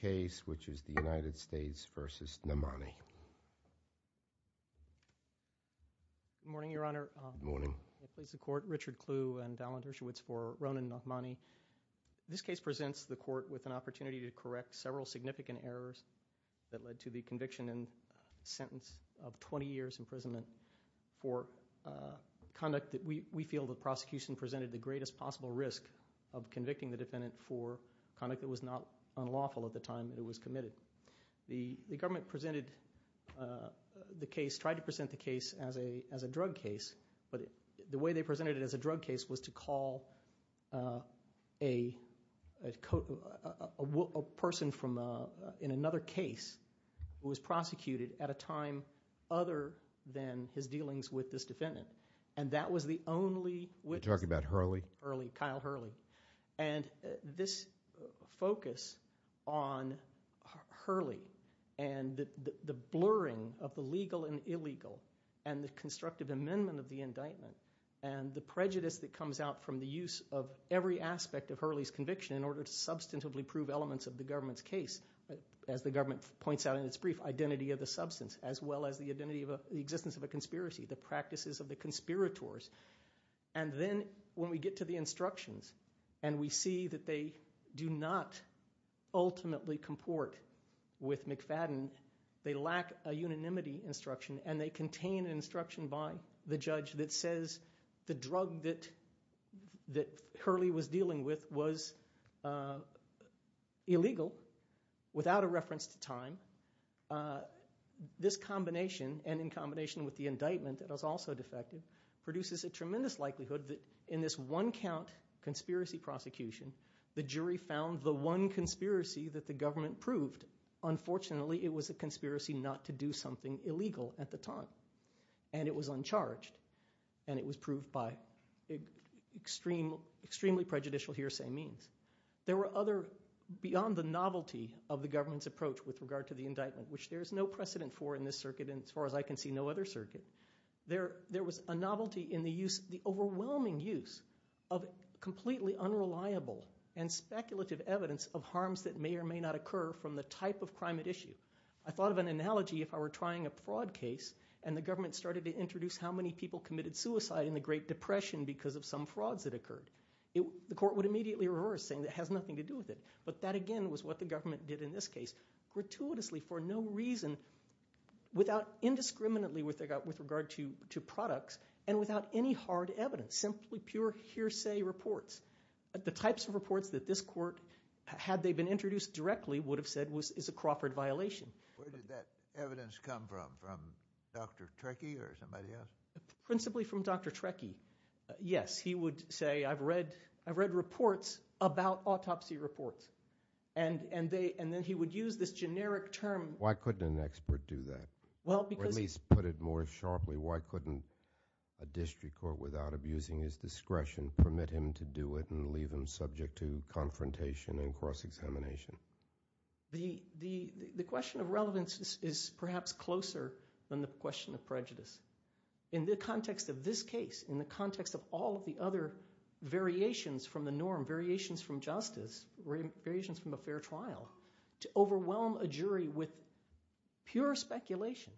case, which is the United States v. Nahmani. Good morning, Your Honor. Good morning. Richard Kluh and Alan Dershowitz for Ronen Nahmani. This case presents the court with an opportunity to correct several significant errors that led to the conviction and sentence of 20 years imprisonment for conduct that we feel the prosecution presented the greatest possible risk of convicting the defendant for conduct that was not unlawful at the time that it was committed. The government presented the case, tried to present the case as a drug case, but the way they presented it as a drug case was to call a person in another case who was prosecuted at a time other than his dealings with this defendant. And that was the only witness. You're talking about Hurley? Hurley, Kyle Hurley. And this focus on Hurley and the blurring of the legal and illegal and the constructive amendment of the indictment and the prejudice that comes out from the use of every aspect of Hurley's conviction in order to substantively prove elements of the government's case, as the government points out in its brief, identity of the substance as well as the existence of a conspiracy, the practices of the conspirators. And then when we get to the instructions and we see that they do not ultimately comport with McFadden, they lack a unanimity instruction and they contain instruction by the judge that says the drug that Hurley was dealing with was illegal without a reference to time. This combination, and in combination with the indictment that was also defective, produces a tremendous likelihood that in this one count conspiracy prosecution the jury found the one conspiracy that the government proved unfortunately it was a conspiracy not to do something illegal at the time. And it was uncharged. And it was proved by extremely prejudicial hearsay means. There were other, beyond the novelty of the government's approach with regard to the indictment, which there is no precedent for in this circuit and as far as I can see no other circuit, there was a novelty in the overwhelming use of completely unreliable and speculative evidence of harms that may or may not occur from the type of crime at issue. I thought of an analogy if I were trying a fraud case and the government started to introduce how many people committed suicide in the Great Depression because of some frauds that occurred. The court would immediately reverse saying it has nothing to do with it. But that again was what the government did in this case. Gratuitously for no reason without indiscriminately with regard to products and without any hard evidence. Simply pure hearsay reports. The types of reports that this court, had they been introduced directly, would have said is a Crawford violation. Where did that evidence come from? From Dr. Trekkie or somebody else? Principally from Dr. Trekkie. Yes, he would say I've read reports about autopsy reports. And then he would use this generic term. Why couldn't an expert do that? Or at least put it more sharply, why couldn't a district court without abusing his discretion permit him to do it and leave him subject to confrontation and cross-examination? The question of relevance is perhaps closer than the question of prejudice. In the context of this case, in the context of all of the other variations from the norm, variations from justice, variations from a fair trial, to overwhelm a jury with pure speculation.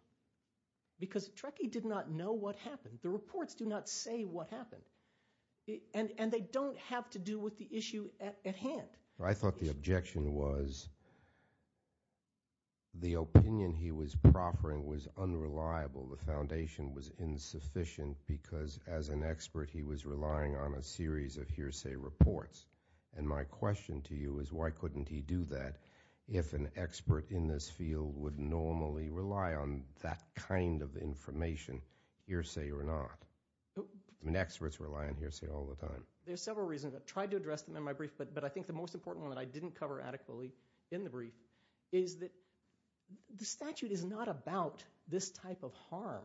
Because Trekkie did not know what happened. The reports do not say what happened. And they don't have to do with the issue at hand. I thought the objection was the opinion he was proffering was unreliable. The foundation was insufficient because as an expert he was relying on a series of hearsay reports. And my question to you is why couldn't he do that if an expert in this field would normally rely on that kind of information hearsay or not? Experts rely on hearsay all the time. There are several reasons. I tried to address them in my brief, but I think the most important one that I didn't cover adequately in the brief is that the statute is not about this type of harm.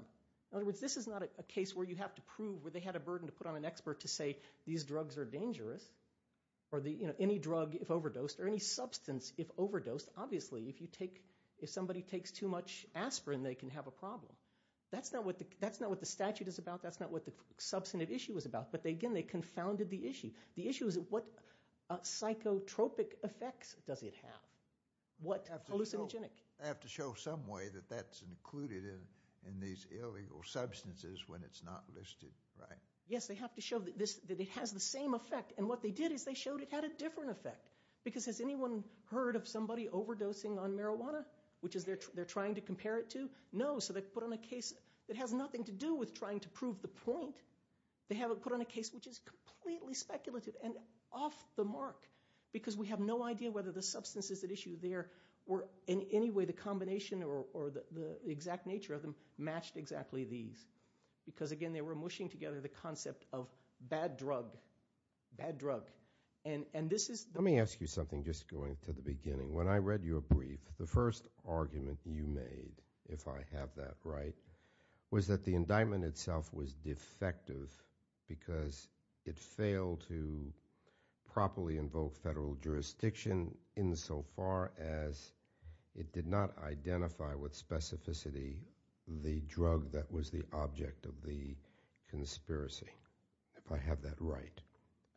In other words, this is not a case where you have to prove where they had a burden to put on an expert to say these drugs are dangerous. Or any drug if overdosed, or any substance if overdosed. Obviously, if somebody takes too much aspirin, they can have a problem. That's not what the statute is about. That's not what the substantive issue is about. But again, they confounded the issue. The issue is what psychotropic effects does it have? What hallucinogenic? They have to show some way that that's included in these illegal substances when it's not listed, right? Yes, they have to show that it has the same effect. And what they did is they showed it had a different effect. Because has anyone heard of somebody overdosing on marijuana? Which they're trying to compare it to? No. So they put on a case that has nothing to do with trying to prove the point. They have it put on a case which is completely speculative and off the mark. Because we have no idea whether the substances at issue there were in any way the combination or the exact nature of them matched exactly these. Because again, they were mushing together the concept of bad drug. Let me ask you something just going to the beginning. When I read your brief, the first argument you made, if I have that right, was that the indictment itself was defective because it failed to properly invoke federal jurisdiction insofar as it did not identify with specificity the drug that was the object of the conspiracy. If I have that right.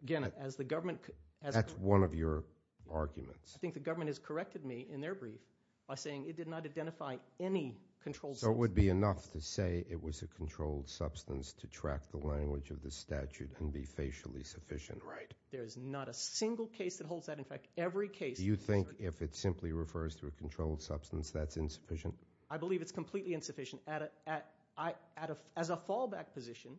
Again, as the government... That's one of your arguments. I think the government has corrected me in their brief by saying it did not identify any controlled... So it would be enough to say it was a controlled substance to track the language of the statute and be facially sufficient, right? There is not a single case that holds that. In fact, every case... Do you think if it simply refers to a controlled substance, that's insufficient? I believe it's completely insufficient. As a fallback position,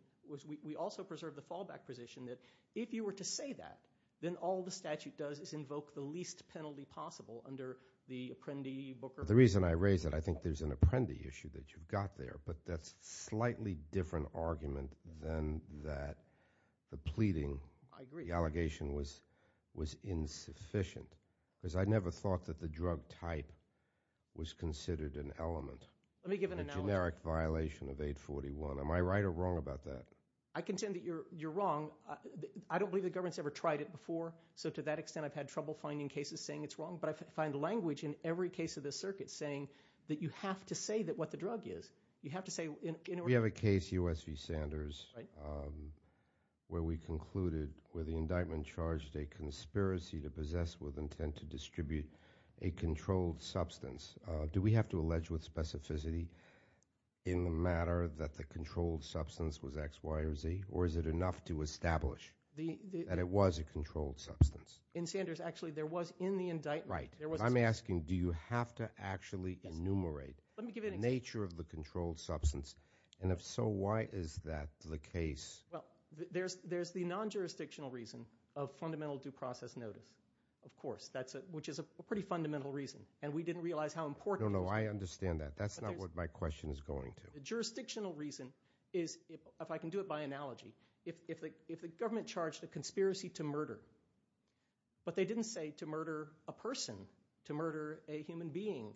we also preserve the fallback position that if you were to say that, then all the statute does is invoke the least penalty possible under the Apprendi Booker... The reason I raise it, I think there's an Apprendi issue that you've got there, but that's a slightly different argument than that the pleading, the allegation was insufficient. Because I never thought that the drug type was considered an element of a generic violation of 841. Am I right or wrong about that? I contend that you're wrong. I don't believe the government's ever tried it before, so to that extent I've had trouble finding cases saying it's wrong, but I find language in every case of this circuit saying that you have to say what the drug is. You have to say... We have a case, US v. Sanders, where we concluded where the indictment charged a conspiracy to possess with intent to control substance. Do we have to allege with specificity in the matter that the controlled substance was X, Y, or Z, or is it enough to establish that it was a controlled substance? In Sanders, actually, there was in the indictment... Right. I'm asking, do you have to actually enumerate the nature of the controlled substance, and if so, why is that the case? Well, there's the non-jurisdictional reason of fundamental due process notice, of course, which is a pretty fundamental reason, and we didn't realize how important... No, no, I understand that. That's not what my question is going to. The jurisdictional reason is, if I can do it by analogy, if the government charged a conspiracy to murder, but they didn't say to murder a person, to murder a human being,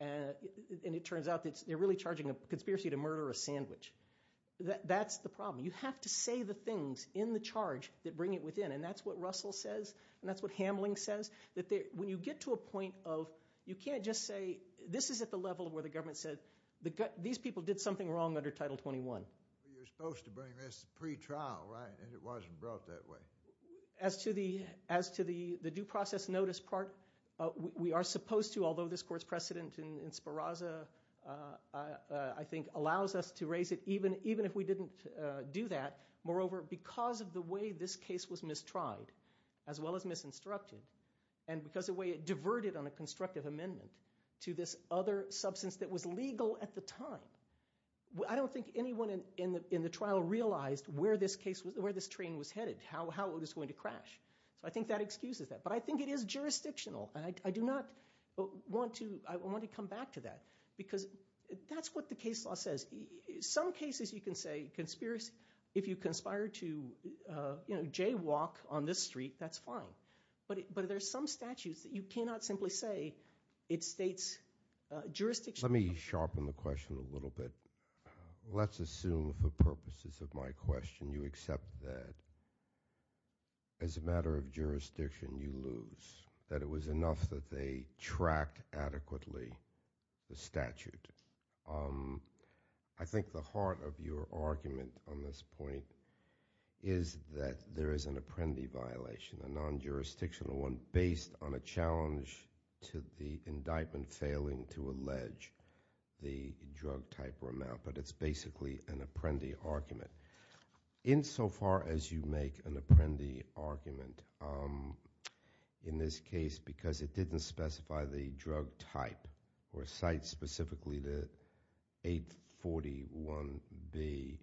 and it turns out that they're really charging a conspiracy to murder a sandwich. That's the problem. You have to say the things in the charge that bring it within, and that's what Russell says, and that's what Hamling says, that when you get to a point of you can't just say, this is at the level where the government said, these people did something wrong under Title 21. You're supposed to bring this pre-trial, right, and it wasn't brought that way. As to the due process notice part, we are supposed to, although this court's precedent in Speraza, I think, allows us to raise it even if we didn't do that. Moreover, because of the way this case was mistried, as well as misinstructed, and because of the way it diverted on a constructive amendment to this other substance that was legal at the time, I don't think anyone in the trial realized where this train was headed, how it was going to crash. I think that excuses that, but I think it is jurisdictional, and I do not want to come back to that, because that's what the case law says. Some cases you can say if you conspire to jaywalk on this street, that's fine, but there's some statutes that you cannot simply say it states jurisdiction. Let me sharpen the question a little bit. Let's assume for purposes of my question you accept that as a matter of jurisdiction you lose, that it was enough that they tracked adequately the statute. I think the heart of your argument on this point is that there is an apprendi violation, a non-jurisdictional one based on a challenge to the indictment failing to allege the drug type or amount, but it's basically an apprendi argument. Insofar as you make an apprendi argument in this case because it didn't specify the drug type or cite specifically the 841B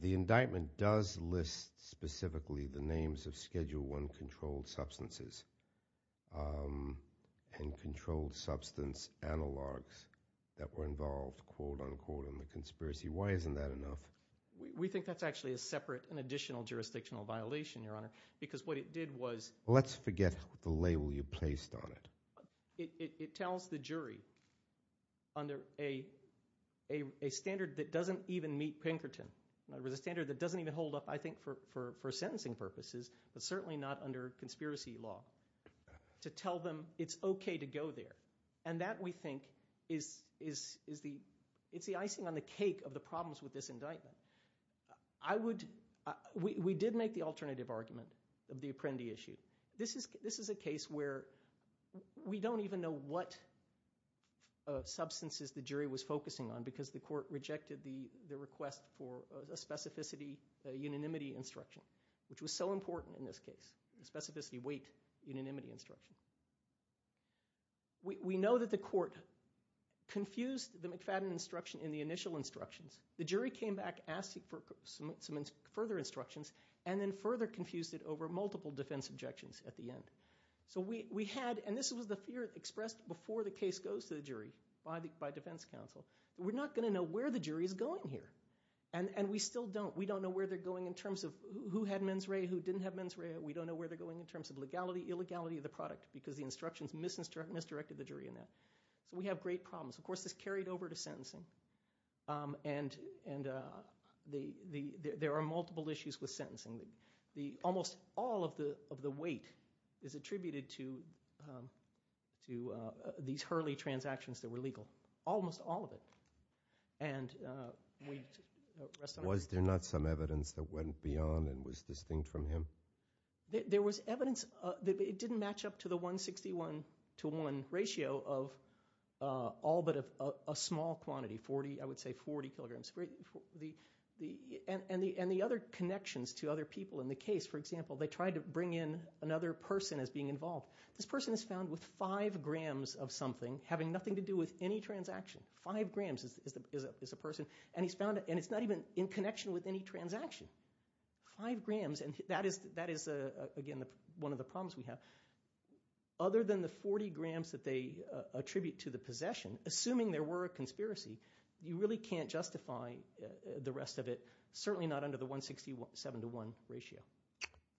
the indictment does list specifically the names of Schedule I controlled substances and controlled substance analogs that were involved, quote unquote, in the conspiracy. Why isn't that enough? We think that's actually a separate and additional jurisdictional violation, Your Honor, because what it did was... Let's forget the label you placed on it. It tells the jury under a standard that doesn't even meet Pinkerton, a standard that doesn't even hold up, I think, for sentencing purposes, but certainly not under conspiracy law, to tell them it's okay to go there. And that, we think, is the icing on the cake of the problems with this indictment. We did make the alternative argument of the apprendi issue. This is a case where we don't even know what substances the jury was focusing on because the court rejected the request for a specificity unanimity instruction, which was so important in this case, a specificity weight unanimity instruction. We know that the court confused the McFadden instruction in the initial instructions. The jury came back asking for some further instructions and then further confused it over multiple defense objections at the end. And this was the fear expressed before the case goes to the jury by defense counsel. We're not going to know where the jury is going here. And we still don't. We don't know where they're going in terms of who had mens rea, who didn't have mens rea. We don't know where they're going in terms of legality, illegality of the product because the instructions misdirected the jury in that. So we have great problems. Of course, this carried over to sentencing. And there are multiple issues with sentencing. Almost all of the weight is attributed to these Hurley transactions that were legal. Almost all of it. Was there not some evidence that went beyond and was distinct from him? There was evidence. It didn't match up to the 161 to 1 ratio of all but a small quantity, 40, I would say 40 kilograms. And the other connections to other people in the case, for example, they tried to bring in another person as being involved. This person is found with 5 grams of something having nothing to do with any transaction. 5 grams is a person. And it's not even in connection with any transaction. 5 grams, and that is again one of the problems we have. Other than the 40 grams that they attribute to the possession, assuming there were a conspiracy, you really can't justify the rest of it. Certainly not under the 167 to 1 ratio.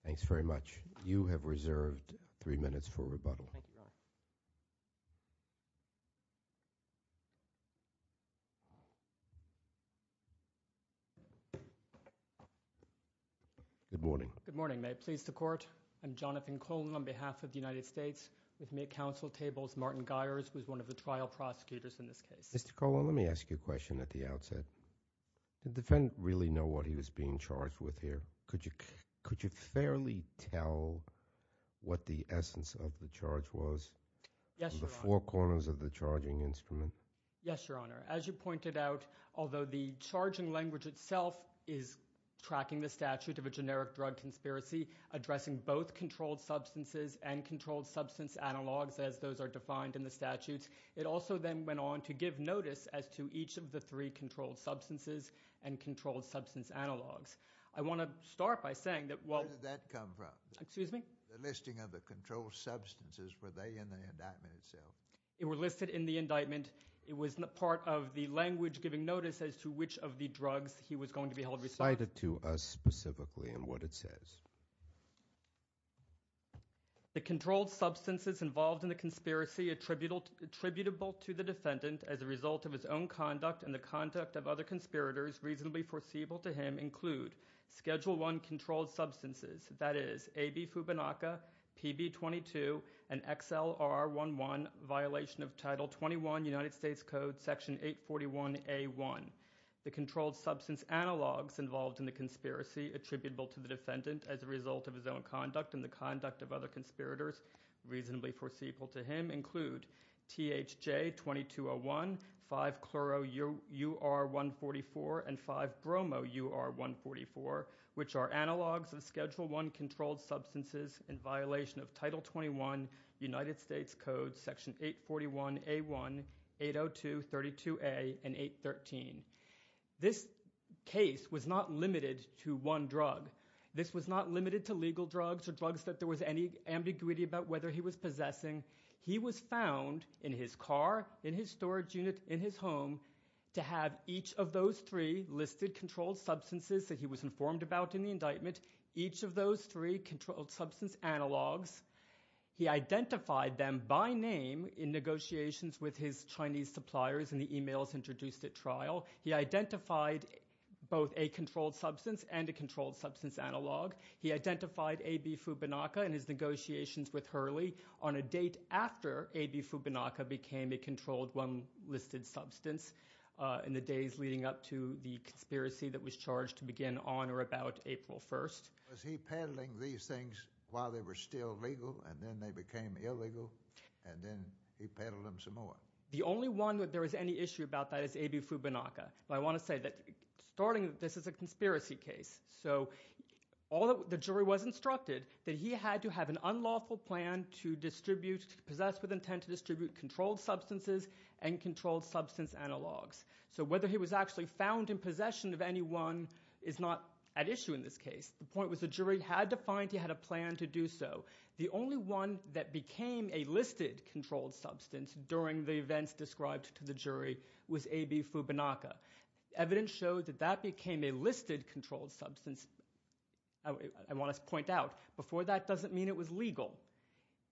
Thanks very much. You have reserved 3 minutes for rebuttal. Good morning. Good morning. May it please the Court. I'm Jonathan Colon on behalf of the United States. With me at Council Tables, Martin Guyers, who is one of the trial prosecutors in this case. Mr. Colon, let me ask you a question at the outset. Did the defendant really know what he was being charged with here? Could you fairly tell what the essence of the charge was? Yes, Your Honor. The four corners of the charging instrument. Yes, Your Honor. As you pointed out, although the charging language itself is tracking the statute of a generic drug conspiracy, addressing both controlled substances and controlled substance analogs as those of the three controlled substances and controlled substance analogs. I want to start by saying that Where did that come from? Excuse me? The listing of the controlled substances. Were they in the indictment itself? They were listed in the indictment. It was part of the language giving notice as to which of the drugs he was going to be held responsible. Cite it to us specifically and what it says. The controlled substances involved in the conspiracy attributable to the defendant as a result of his own conduct and the conduct of other conspirators reasonably foreseeable to him include Schedule I controlled substances, that is, AB Fubinaca, PB 22, and XLR11, violation of Title 21 United States Code, Section 841A1. The controlled substance analogs involved in the conspiracy attributable to the defendant as a result of his own conduct and the conduct of other conspirators reasonably foreseeable to him include THJ 2201, 5-chlorour144, and 5-bromour144, which are analogs of Schedule I controlled substances in violation of Title 21 United States Code, Section 841A1, 802, 32A, and 813. This case was not limited to one drug. This was not limited to legal drugs or drugs that there was any ambiguity about whether he was possessing. He was found in his car, in his storage unit, in his home to have each of those three listed controlled substances that he was informed about in the indictment, each of those three controlled substance analogs. He identified them by name in negotiations with his Chinese suppliers in the emails introduced at trial. He identified both a controlled substance and a controlled substance analog. He identified A.B. Fubinaca in his negotiations with Hurley on a date after A.B. Fubinaca became a controlled unlisted substance in the days leading up to the conspiracy that was charged to begin on or about April 1st. Was he peddling these things while they were still legal and then they became illegal and then he peddled them some more? The only one that there was any issue about that is A.B. Fubinaca. I want to say that starting this is a jury was instructed that he had to have an unlawful plan to distribute, to possess with intent to distribute controlled substances and controlled substance analogs. So whether he was actually found in possession of any one is not at issue in this case. The point was the jury had to find he had a plan to do so. The only one that became a listed controlled substance during the events described to the jury was A.B. Fubinaca. Evidence showed that that became a listed controlled substance. I want to point out before that doesn't mean it was legal.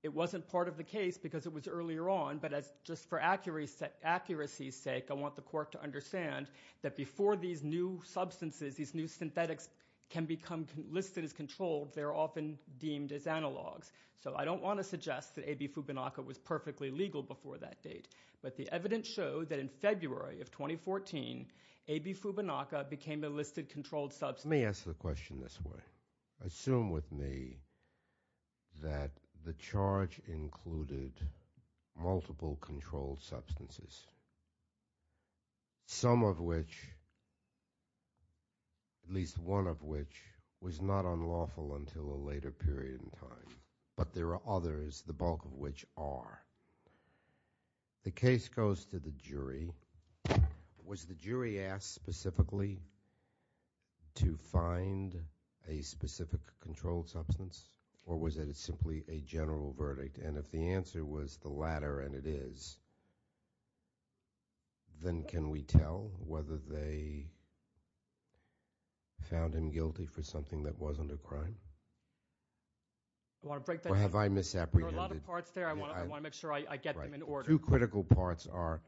It wasn't part of the case because it was earlier on but just for accuracy's sake I want the court to understand that before these new substances, these new synthetics can become listed as controlled they are often deemed as analogs. So I don't want to suggest that A.B. Fubinaca was perfectly legal before that date but the evidence showed that in February of 2014 A.B. Fubinaca became a listed controlled substance. Let me ask the question this way. Assume with me that the charge included multiple controlled substances. Some of which, at least one of which was not unlawful until a later period in time but there are others, the bulk of which are. The case goes to the jury. Was the jury asked specifically to find a specific controlled substance or was it simply a general verdict and if the answer was the latter and it is, then can we tell whether they found him guilty for something that wasn't a crime? Or have I misapprehended? There are a lot of parts there. I want to make sure I get them in order. Two critical parts are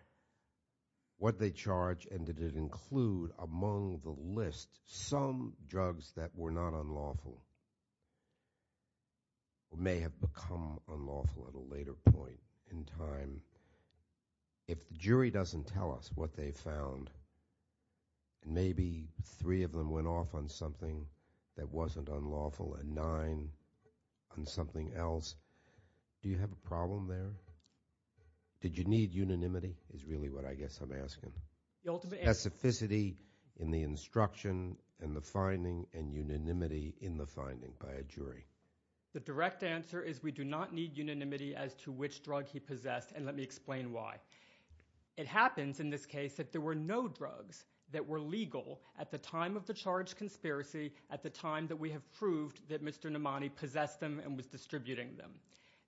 what they charge and did it include among the list some drugs that were not unlawful or may have become unlawful at a later point in time. If the jury doesn't tell us what they found, maybe three of them went off on something that wasn't unlawful and nine went off on something else. Do you have a problem there? Did you need unanimity is really what I guess I'm asking. Specificity in the instruction and the finding and unanimity in the finding by a jury. The direct answer is we do not need unanimity as to which drug he possessed and let me explain why. It happens in this case that there were no drugs that were legal at the time of the charge conspiracy at the time that we have proved that Mr. Nomani possessed them and was distributing them.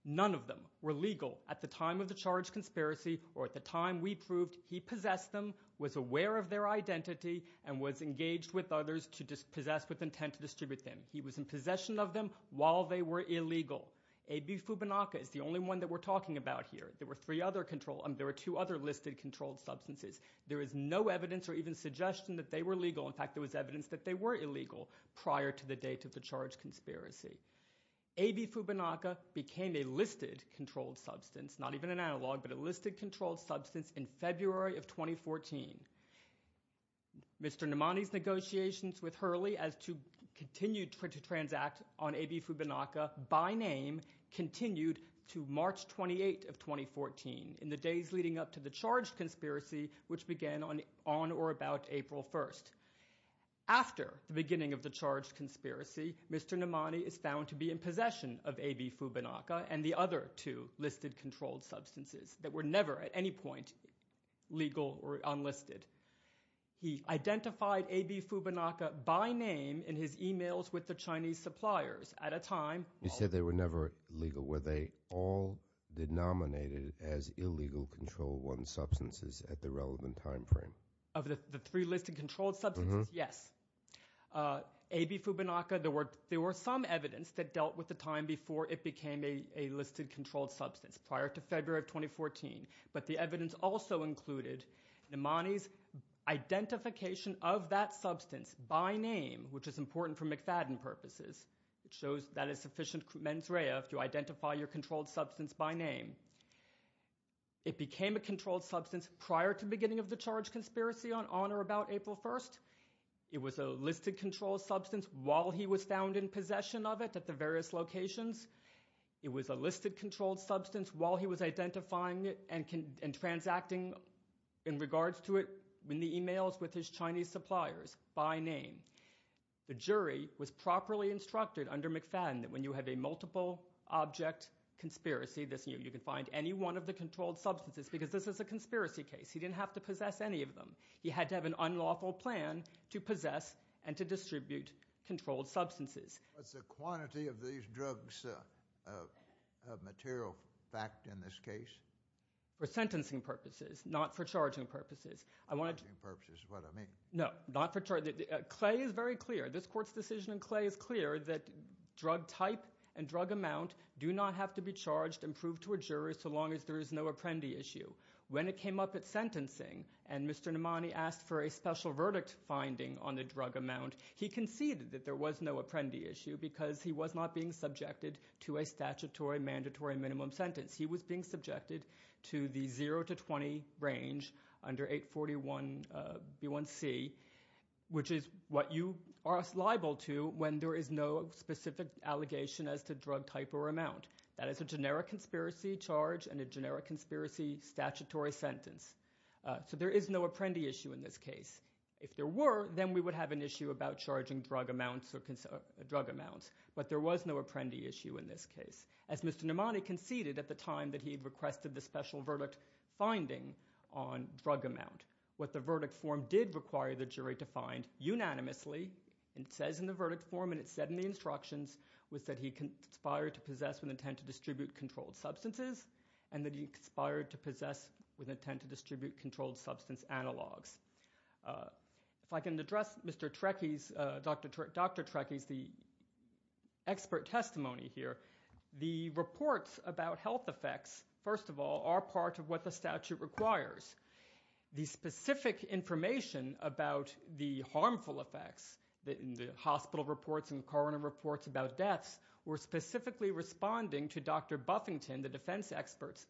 None of them were legal at the time of the charge conspiracy or at the time we proved he possessed them, was aware of their identity, and was engaged with others to possess with intent to distribute them. He was in possession of them while they were illegal. AB Fubinaca is the only one that we're talking about here. There were two other listed controlled substances. There is no evidence or even suggestion that they were legal. In fact, there was evidence that they were illegal prior to the date of the charge conspiracy. AB Fubinaca became a listed controlled substance, not even an analog, but a listed controlled substance in February of 2014. Mr. Nomani's negotiations with Hurley as to continue to transact on AB Fubinaca by name continued to March 28th of 2014 in the days leading up to the charge conspiracy which began on or about April 1st. After the beginning of the charge conspiracy, Mr. Nomani is found to be in possession of AB Fubinaca and the other two listed controlled substances that were never at any point legal or unlisted. He identified AB Fubinaca by name in his emails with the Chinese suppliers at a time... You said they were never legal. Were they all denominated as illegal control one substances at the relevant time frame? Of the three listed controlled substances, yes. AB Fubinaca, there were some evidence that dealt with the time before it became a listed controlled substance, prior to February of 2014. But the evidence also included Nomani's identification of that substance by name, which is important for McFadden purposes. It shows that is sufficient mens rea to identify your controlled substance by name. It became a charge conspiracy on or about April 1st. It was a listed controlled substance while he was found in possession of it at the various locations. It was a listed controlled substance while he was identifying it and transacting in regards to it in the emails with his Chinese suppliers by name. The jury was properly instructed under McFadden that when you have a multiple object conspiracy, you can find any one of the controlled substances because this is a conspiracy case. He didn't have to possess any of them. He had to have an unlawful plan to possess and to distribute controlled substances. What's the quantity of these drugs of material fact in this case? For sentencing purposes, not for charging purposes. Not for charging purposes is what I mean. No. Clay is very clear. This court's decision in Clay is clear that drug type and drug amount do not have to be charged and proved to a jury so long as there is no apprendi issue. When it came up at sentencing and Mr. Nomani asked for a special verdict finding on the drug amount, he conceded that there was no apprendi issue because he was not being subjected to a statutory mandatory minimum sentence. He was being subjected to the 0 to 20 range under 841 B1C, which is what you are liable to when there is no specific allegation as to drug type or amount. That is a generic conspiracy charge and a generic conspiracy statutory sentence. So there is no apprendi issue in this case. If there were, then we would have an issue about charging drug amounts but there was no apprendi issue in this case. As Mr. Nomani conceded at the time that he requested the special verdict finding on drug amount, what the verdict form did require the jury to find unanimously, it says in the verdict form and it said in the instructions was that he conspired to possess with intent to distribute controlled substances and that he conspired to possess with intent to distribute controlled substance analogs. If I can address Mr. Trekkies Dr. Trekkies, the expert testimony here, the reports about health effects, first of all are part of what the statute requires. The specific information about the harmful effects, the specific information about deaths were specifically responding to Dr. Buffington, the defense experts,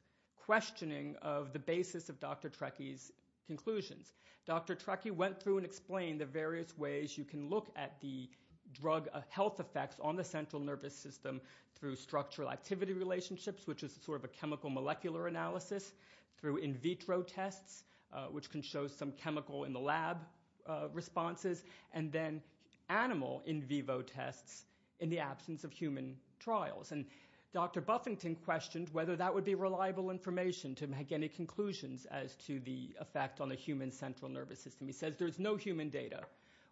questioning of the basis of Dr. Trekkies conclusions. Dr. Trekkies went through and explained the various ways you can look at the drug health effects on the central nervous system through structural activity relationships, which is sort of a chemical molecular analysis, through in vitro tests, which can show some chemical in the lab responses, and then animal in vivo tests in the absence of human trials. Dr. Buffington questioned whether that would be reliable information to make any conclusions as to the effect on the human central nervous system. He says there's no human data.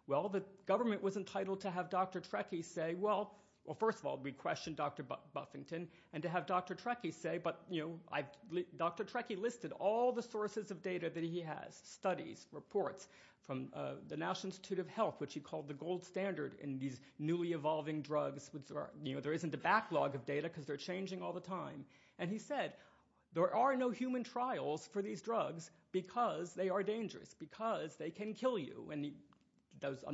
Well, the government was entitled to have Dr. Trekkies say, well, first of all, we questioned Dr. Buffington, and to have Dr. Trekkies say, but Dr. Trekkies listed all the sources of data that he has, studies, reports, from the National Institute of Health, which he called the gold standard in these newly evolving drugs. There isn't a backlog of data because they're changing all the time. And he said there are no human trials for these drugs because they are dangerous, because they can kill you. And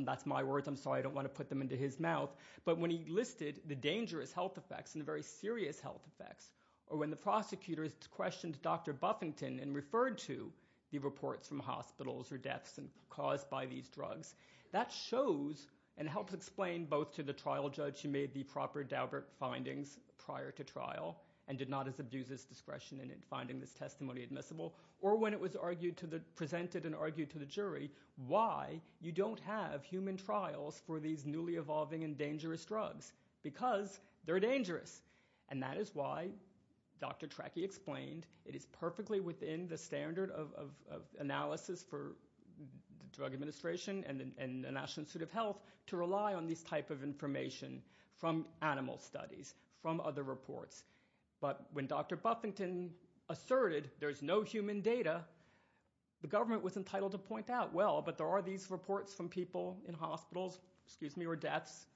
that's my words, I'm sorry, I don't want to put them into his mouth. But when he listed the dangerous health effects and the very serious health effects, or when the prosecutors questioned Dr. Buffington and referred to the reports from hospitals or deaths caused by these drugs, that shows and helps explain both to the trial judge who made the proper Daubert findings prior to trial and did not as abuse his discretion in finding this testimony admissible, or when it was presented and argued to the jury why you don't have human trials for these newly evolving and dangerous drugs because they're dangerous. And that is why Dr. Trekkies explained it is perfectly within the standard of the Drug Administration and the National Institute of Health to rely on this type of information from animal studies, from other reports. But when Dr. Buffington asserted there's no human data, the government was entitled to point out well, but there are these reports from people in hospitals, or deaths,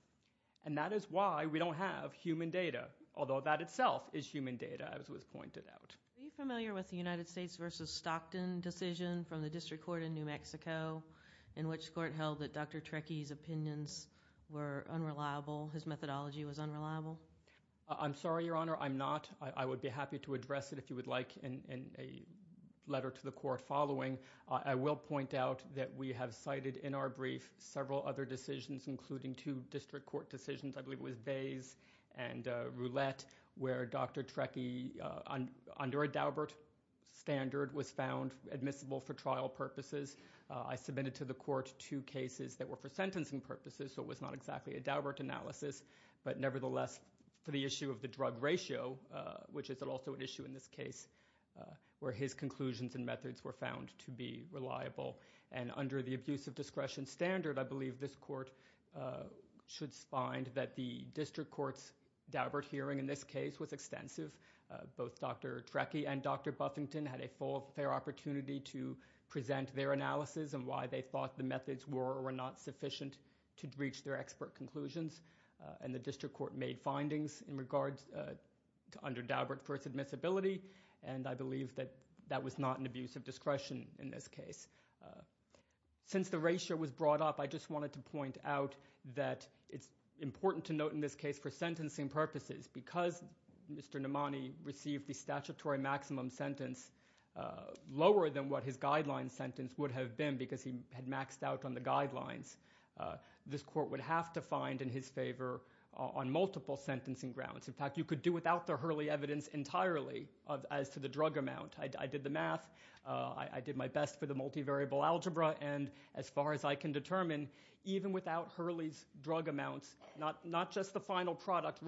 and that is why we don't have human data. Although that itself is human data, as was pointed out. Are you familiar with the United States v. Stockton decision from the District Court in New Mexico in which the Court held that Dr. Trekkies' opinions were unreliable, his methodology was unreliable? I'm sorry, Your Honor, I'm not. I would be happy to address it if you would like in a letter to the Court following. I will point out that we have cited in our brief several other decisions, including two District Court decisions, I believe it was Bays and Roulette, where Dr. Trekkies under a Daubert standard was found admissible for trial purposes. I submitted to the Court two cases that were for sentencing purposes, so it was not exactly a Daubert analysis, but nevertheless for the issue of the drug ratio, which is also an issue in this case where his conclusions and methods were found to be reliable and under the abuse of discretion standard, I believe this Court should find that the District Court's Daubert hearing in this case was extensive. Both Dr. Trekkie and Dr. Buffington had a fair opportunity to present their analysis and why they thought the methods were or were not sufficient to reach their expert conclusions and the District Court made findings in regards to under Daubert for its admissibility and I believe that that was not an abuse of discretion in this case. Since the ratio was brought up, I just wanted to point out that it's important to note in this case for sentencing purposes, because Mr. Nomani received the statutory maximum sentence lower than what his guideline sentence would have been because he had maxed out on the guidelines, this Court would have to find in his favor on multiple sentencing grounds. In fact, you could do without the Hurley evidence entirely as to the drug amount. I did the math, I did my best for the multivariable algebra, and as far as I can determine, even without Hurley's drug amounts, not just the final product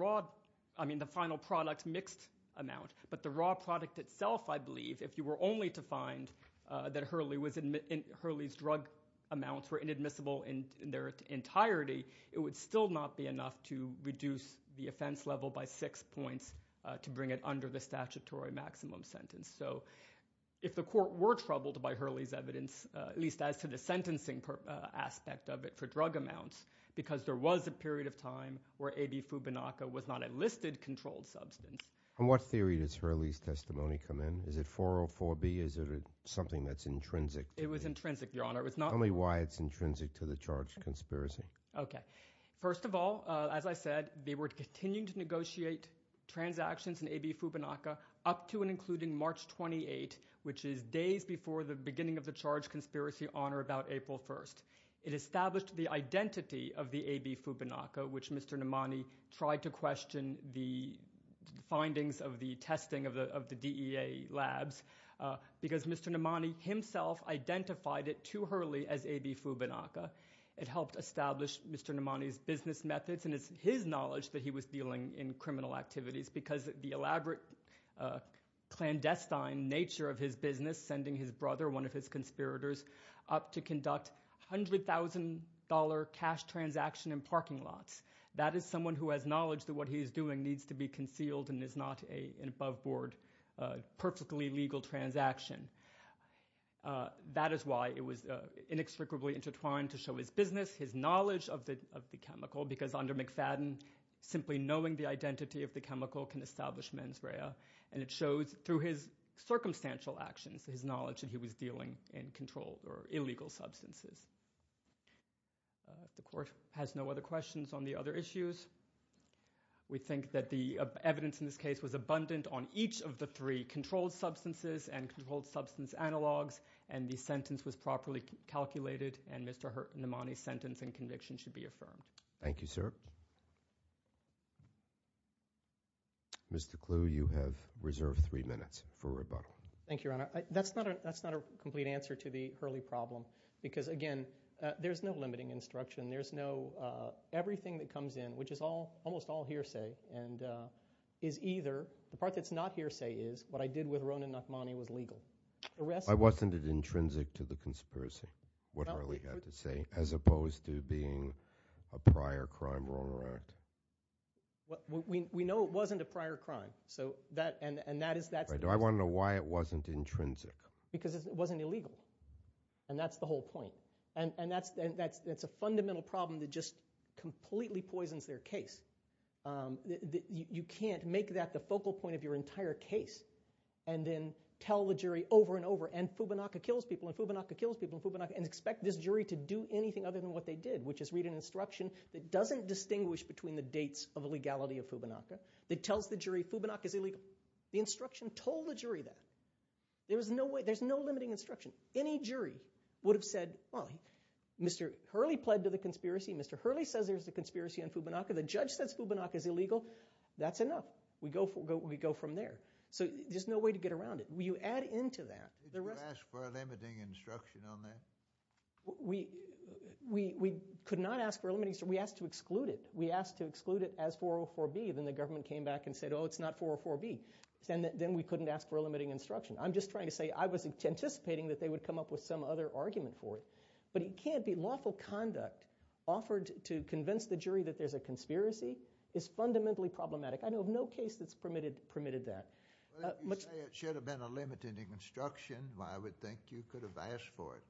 mixed amount, but the raw product itself, I believe, if you were only to find that Hurley's drug amounts were inadmissible in their entirety, it would still not be enough to reduce the offense level by six points to bring it under the statutory maximum sentence. So if the Court were troubled by Hurley's evidence, at least as to the sentencing aspect of it for drug amounts, because there was a period of time where A.B. Fubinaca was not a listed controlled substance. And what theory does Hurley's testimony come in? Is it 404B? Is it something that's intrinsic? It was intrinsic, Your Honor. Tell me why it's intrinsic to the charged conspiracy. Okay. First of all, as I said, they were continuing to negotiate transactions in A.B. Fubinaca up to and including March 28, which is days before the beginning of the charged conspiracy on or about April 1. It established the identity of the A.B. Fubinaca, which Mr. Nomani tried to question the findings of the testing of the DEA labs because Mr. Nomani himself identified it to Hurley as A.B. Fubinaca. It helped establish Mr. Nomani's business methods, and it's his knowledge that he was dealing in criminal activities because the elaborate clandestine nature of his business, sending his brother, one of his conspirators, up to conduct $100,000 cash transaction in parking lots. That is someone who has knowledge that what he is doing needs to be concealed and is not an above board perfectly legal transaction. That is why it was inextricably intertwined to show his business, his knowledge of the chemical, because under McFadden, simply knowing the identity of the chemical can establish mens rea. And it shows through his dealing in controlled or illegal substances. The Court has no other questions on the other issues. We think that the evidence in this case was abundant on each of the three controlled substances and controlled substance analogs, and the sentence was properly calculated, and Mr. Nomani's sentence and conviction should be affirmed. Thank you, sir. Mr. Clue, you have reserved three minutes for rebuttal. Thank you, Your Honor. That's not a complete answer to the Hurley problem because, again, there's no limiting instruction. There's no everything that comes in, which is almost all hearsay, and is either the part that's not hearsay is what I did with Ronan Nachmany was legal. Why wasn't it intrinsic to the conspiracy, what Hurley had to say, as opposed to being a prior crime wrong or act? We know it wasn't a prior crime. Do I want to know why it wasn't intrinsic? Because it wasn't illegal, and that's the whole point. That's a fundamental problem that just completely poisons their case. You can't make that the focal point of your entire case and then tell the jury over and over, and Fubunaka kills people, and Fubunaka kills people, and Fubunaka, and expect this jury to do anything other than what they did, which is read an instruction that doesn't distinguish between the dates of legality of Fubunaka that tells the jury Fubunaka's illegal. The instruction told the jury that. There's no limiting instruction. Any jury would have said, well, Mr. Hurley pled to the conspiracy. Mr. Hurley says there's a conspiracy on Fubunaka. The judge says Fubunaka's illegal. That's enough. We go from there. There's no way to get around it. You add into that. Did you ask for a limiting instruction on that? We could not ask for a limiting instruction. We asked to exclude it. We asked to exclude it as 404B. Then the government came back and said, oh, it's not 404B. Then we couldn't ask for a limiting instruction. I'm just trying to say I was anticipating that they would come up with some other argument for it, but it can't be. Lawful conduct offered to convince the jury that there's a conspiracy is fundamentally problematic. I know of no case that's permitted that. You say it should have been a limiting instruction. I would think you could have asked for it.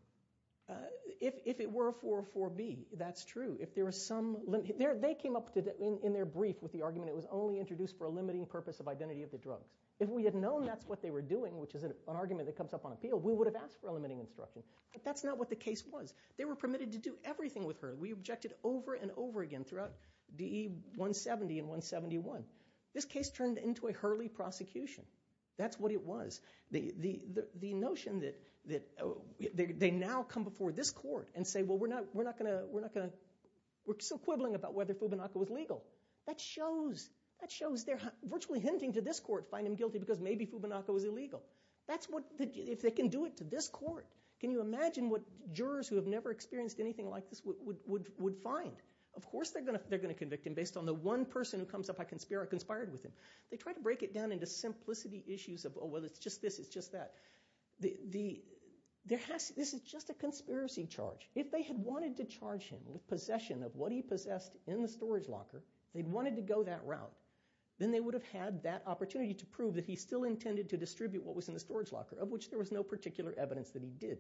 If it were a 404B, that's true. They came up in their brief with the argument it was only introduced for a limiting purpose of identity of the drugs. If we had known that's what they were doing, which is an argument that comes up on appeal, we would have asked for a limiting instruction. That's not what the case was. They were permitted to do everything with Hurley. We objected over and over again throughout DE 170 and 171. This case turned into a Hurley prosecution. That's what it was. The notion that they now come before this court and say we're so quibbling about whether Fubinaka was legal. That shows they're virtually hinting to this court to find him guilty because maybe Fubinaka was illegal. If they can do it to this court, can you imagine what jurors who have never experienced anything like this would find? Of course they're going to convict him based on the one person who comes up, I conspired with him. They try to break it down into simplicity issues of well it's just this, it's just that. This is just a conspiracy charge. If they had wanted to charge him with possession of what he possessed in the storage locker, they wanted to go that route, then they would have had that opportunity to prove that he still intended to distribute what was in the storage locker, of which there was no particular evidence that he did.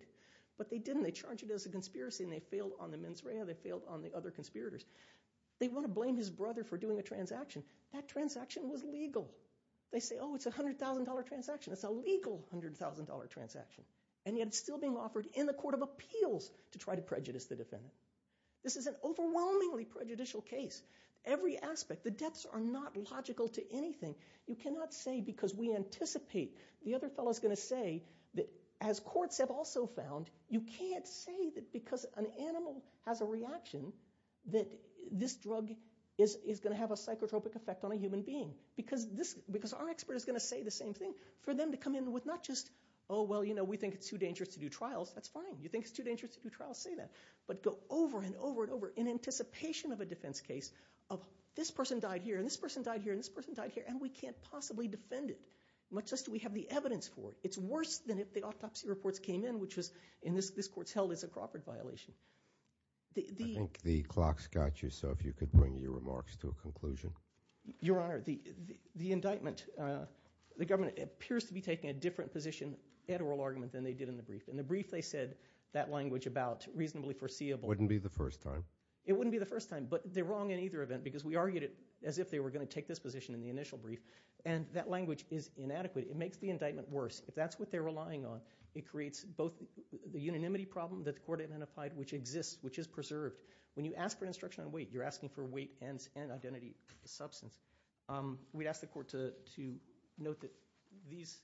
But they didn't. They charged it as a conspiracy and they failed on the mens rea, they failed on the other conspirators. They want to blame his brother for doing a transaction. That transaction was legal. They say oh it's a $100,000 transaction. It's a legal $100,000 transaction. And yet it's still being offered in the court of appeals to try to prejudice the defendant. This is an overwhelmingly prejudicial case. Every aspect, the depths are not logical to anything. You cannot say because we anticipate, the other fellow is going to say that as courts have also found, you can't say that because an animal has a reaction, that this drug is going to have a psychotropic effect on a human being. Because our expert is going to say the same thing. For them to come in with not just oh well we think it's too dangerous to do trials, that's fine. You think it's too dangerous to do trials, say that. But go over and over and over in anticipation of a defense case of this person died here and this person died here and this person died here and we can't possibly defend it, much less do we have the evidence for it. It's worse than if the autopsy reports came in, which was in this court's held as a Crawford violation. I think the clock's got you, so if you could bring your remarks to a conclusion. Your Honor, the indictment, the government appears to be taking a different position at oral argument than they did in the brief. In the brief they said that language about reasonably foreseeable. Wouldn't be the first time. It wouldn't be the first time, but they're wrong in either event because we argued it as if they were going to take this position in the initial brief and that language is inadequate. It makes the indictment worse. If that's what they're relying on, it creates both the unanimity problem that the court identified which exists, which is preserved. When you ask for an instruction on weight, you're asking for weight and identity substance. We'd ask the court to note that these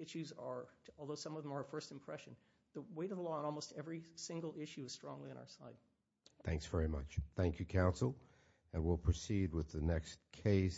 issues are, although some of them are a first impression, the weight of the law on almost every single issue is strongly on our side. Thanks very much. Thank you, counsel, and we'll proceed with the next case.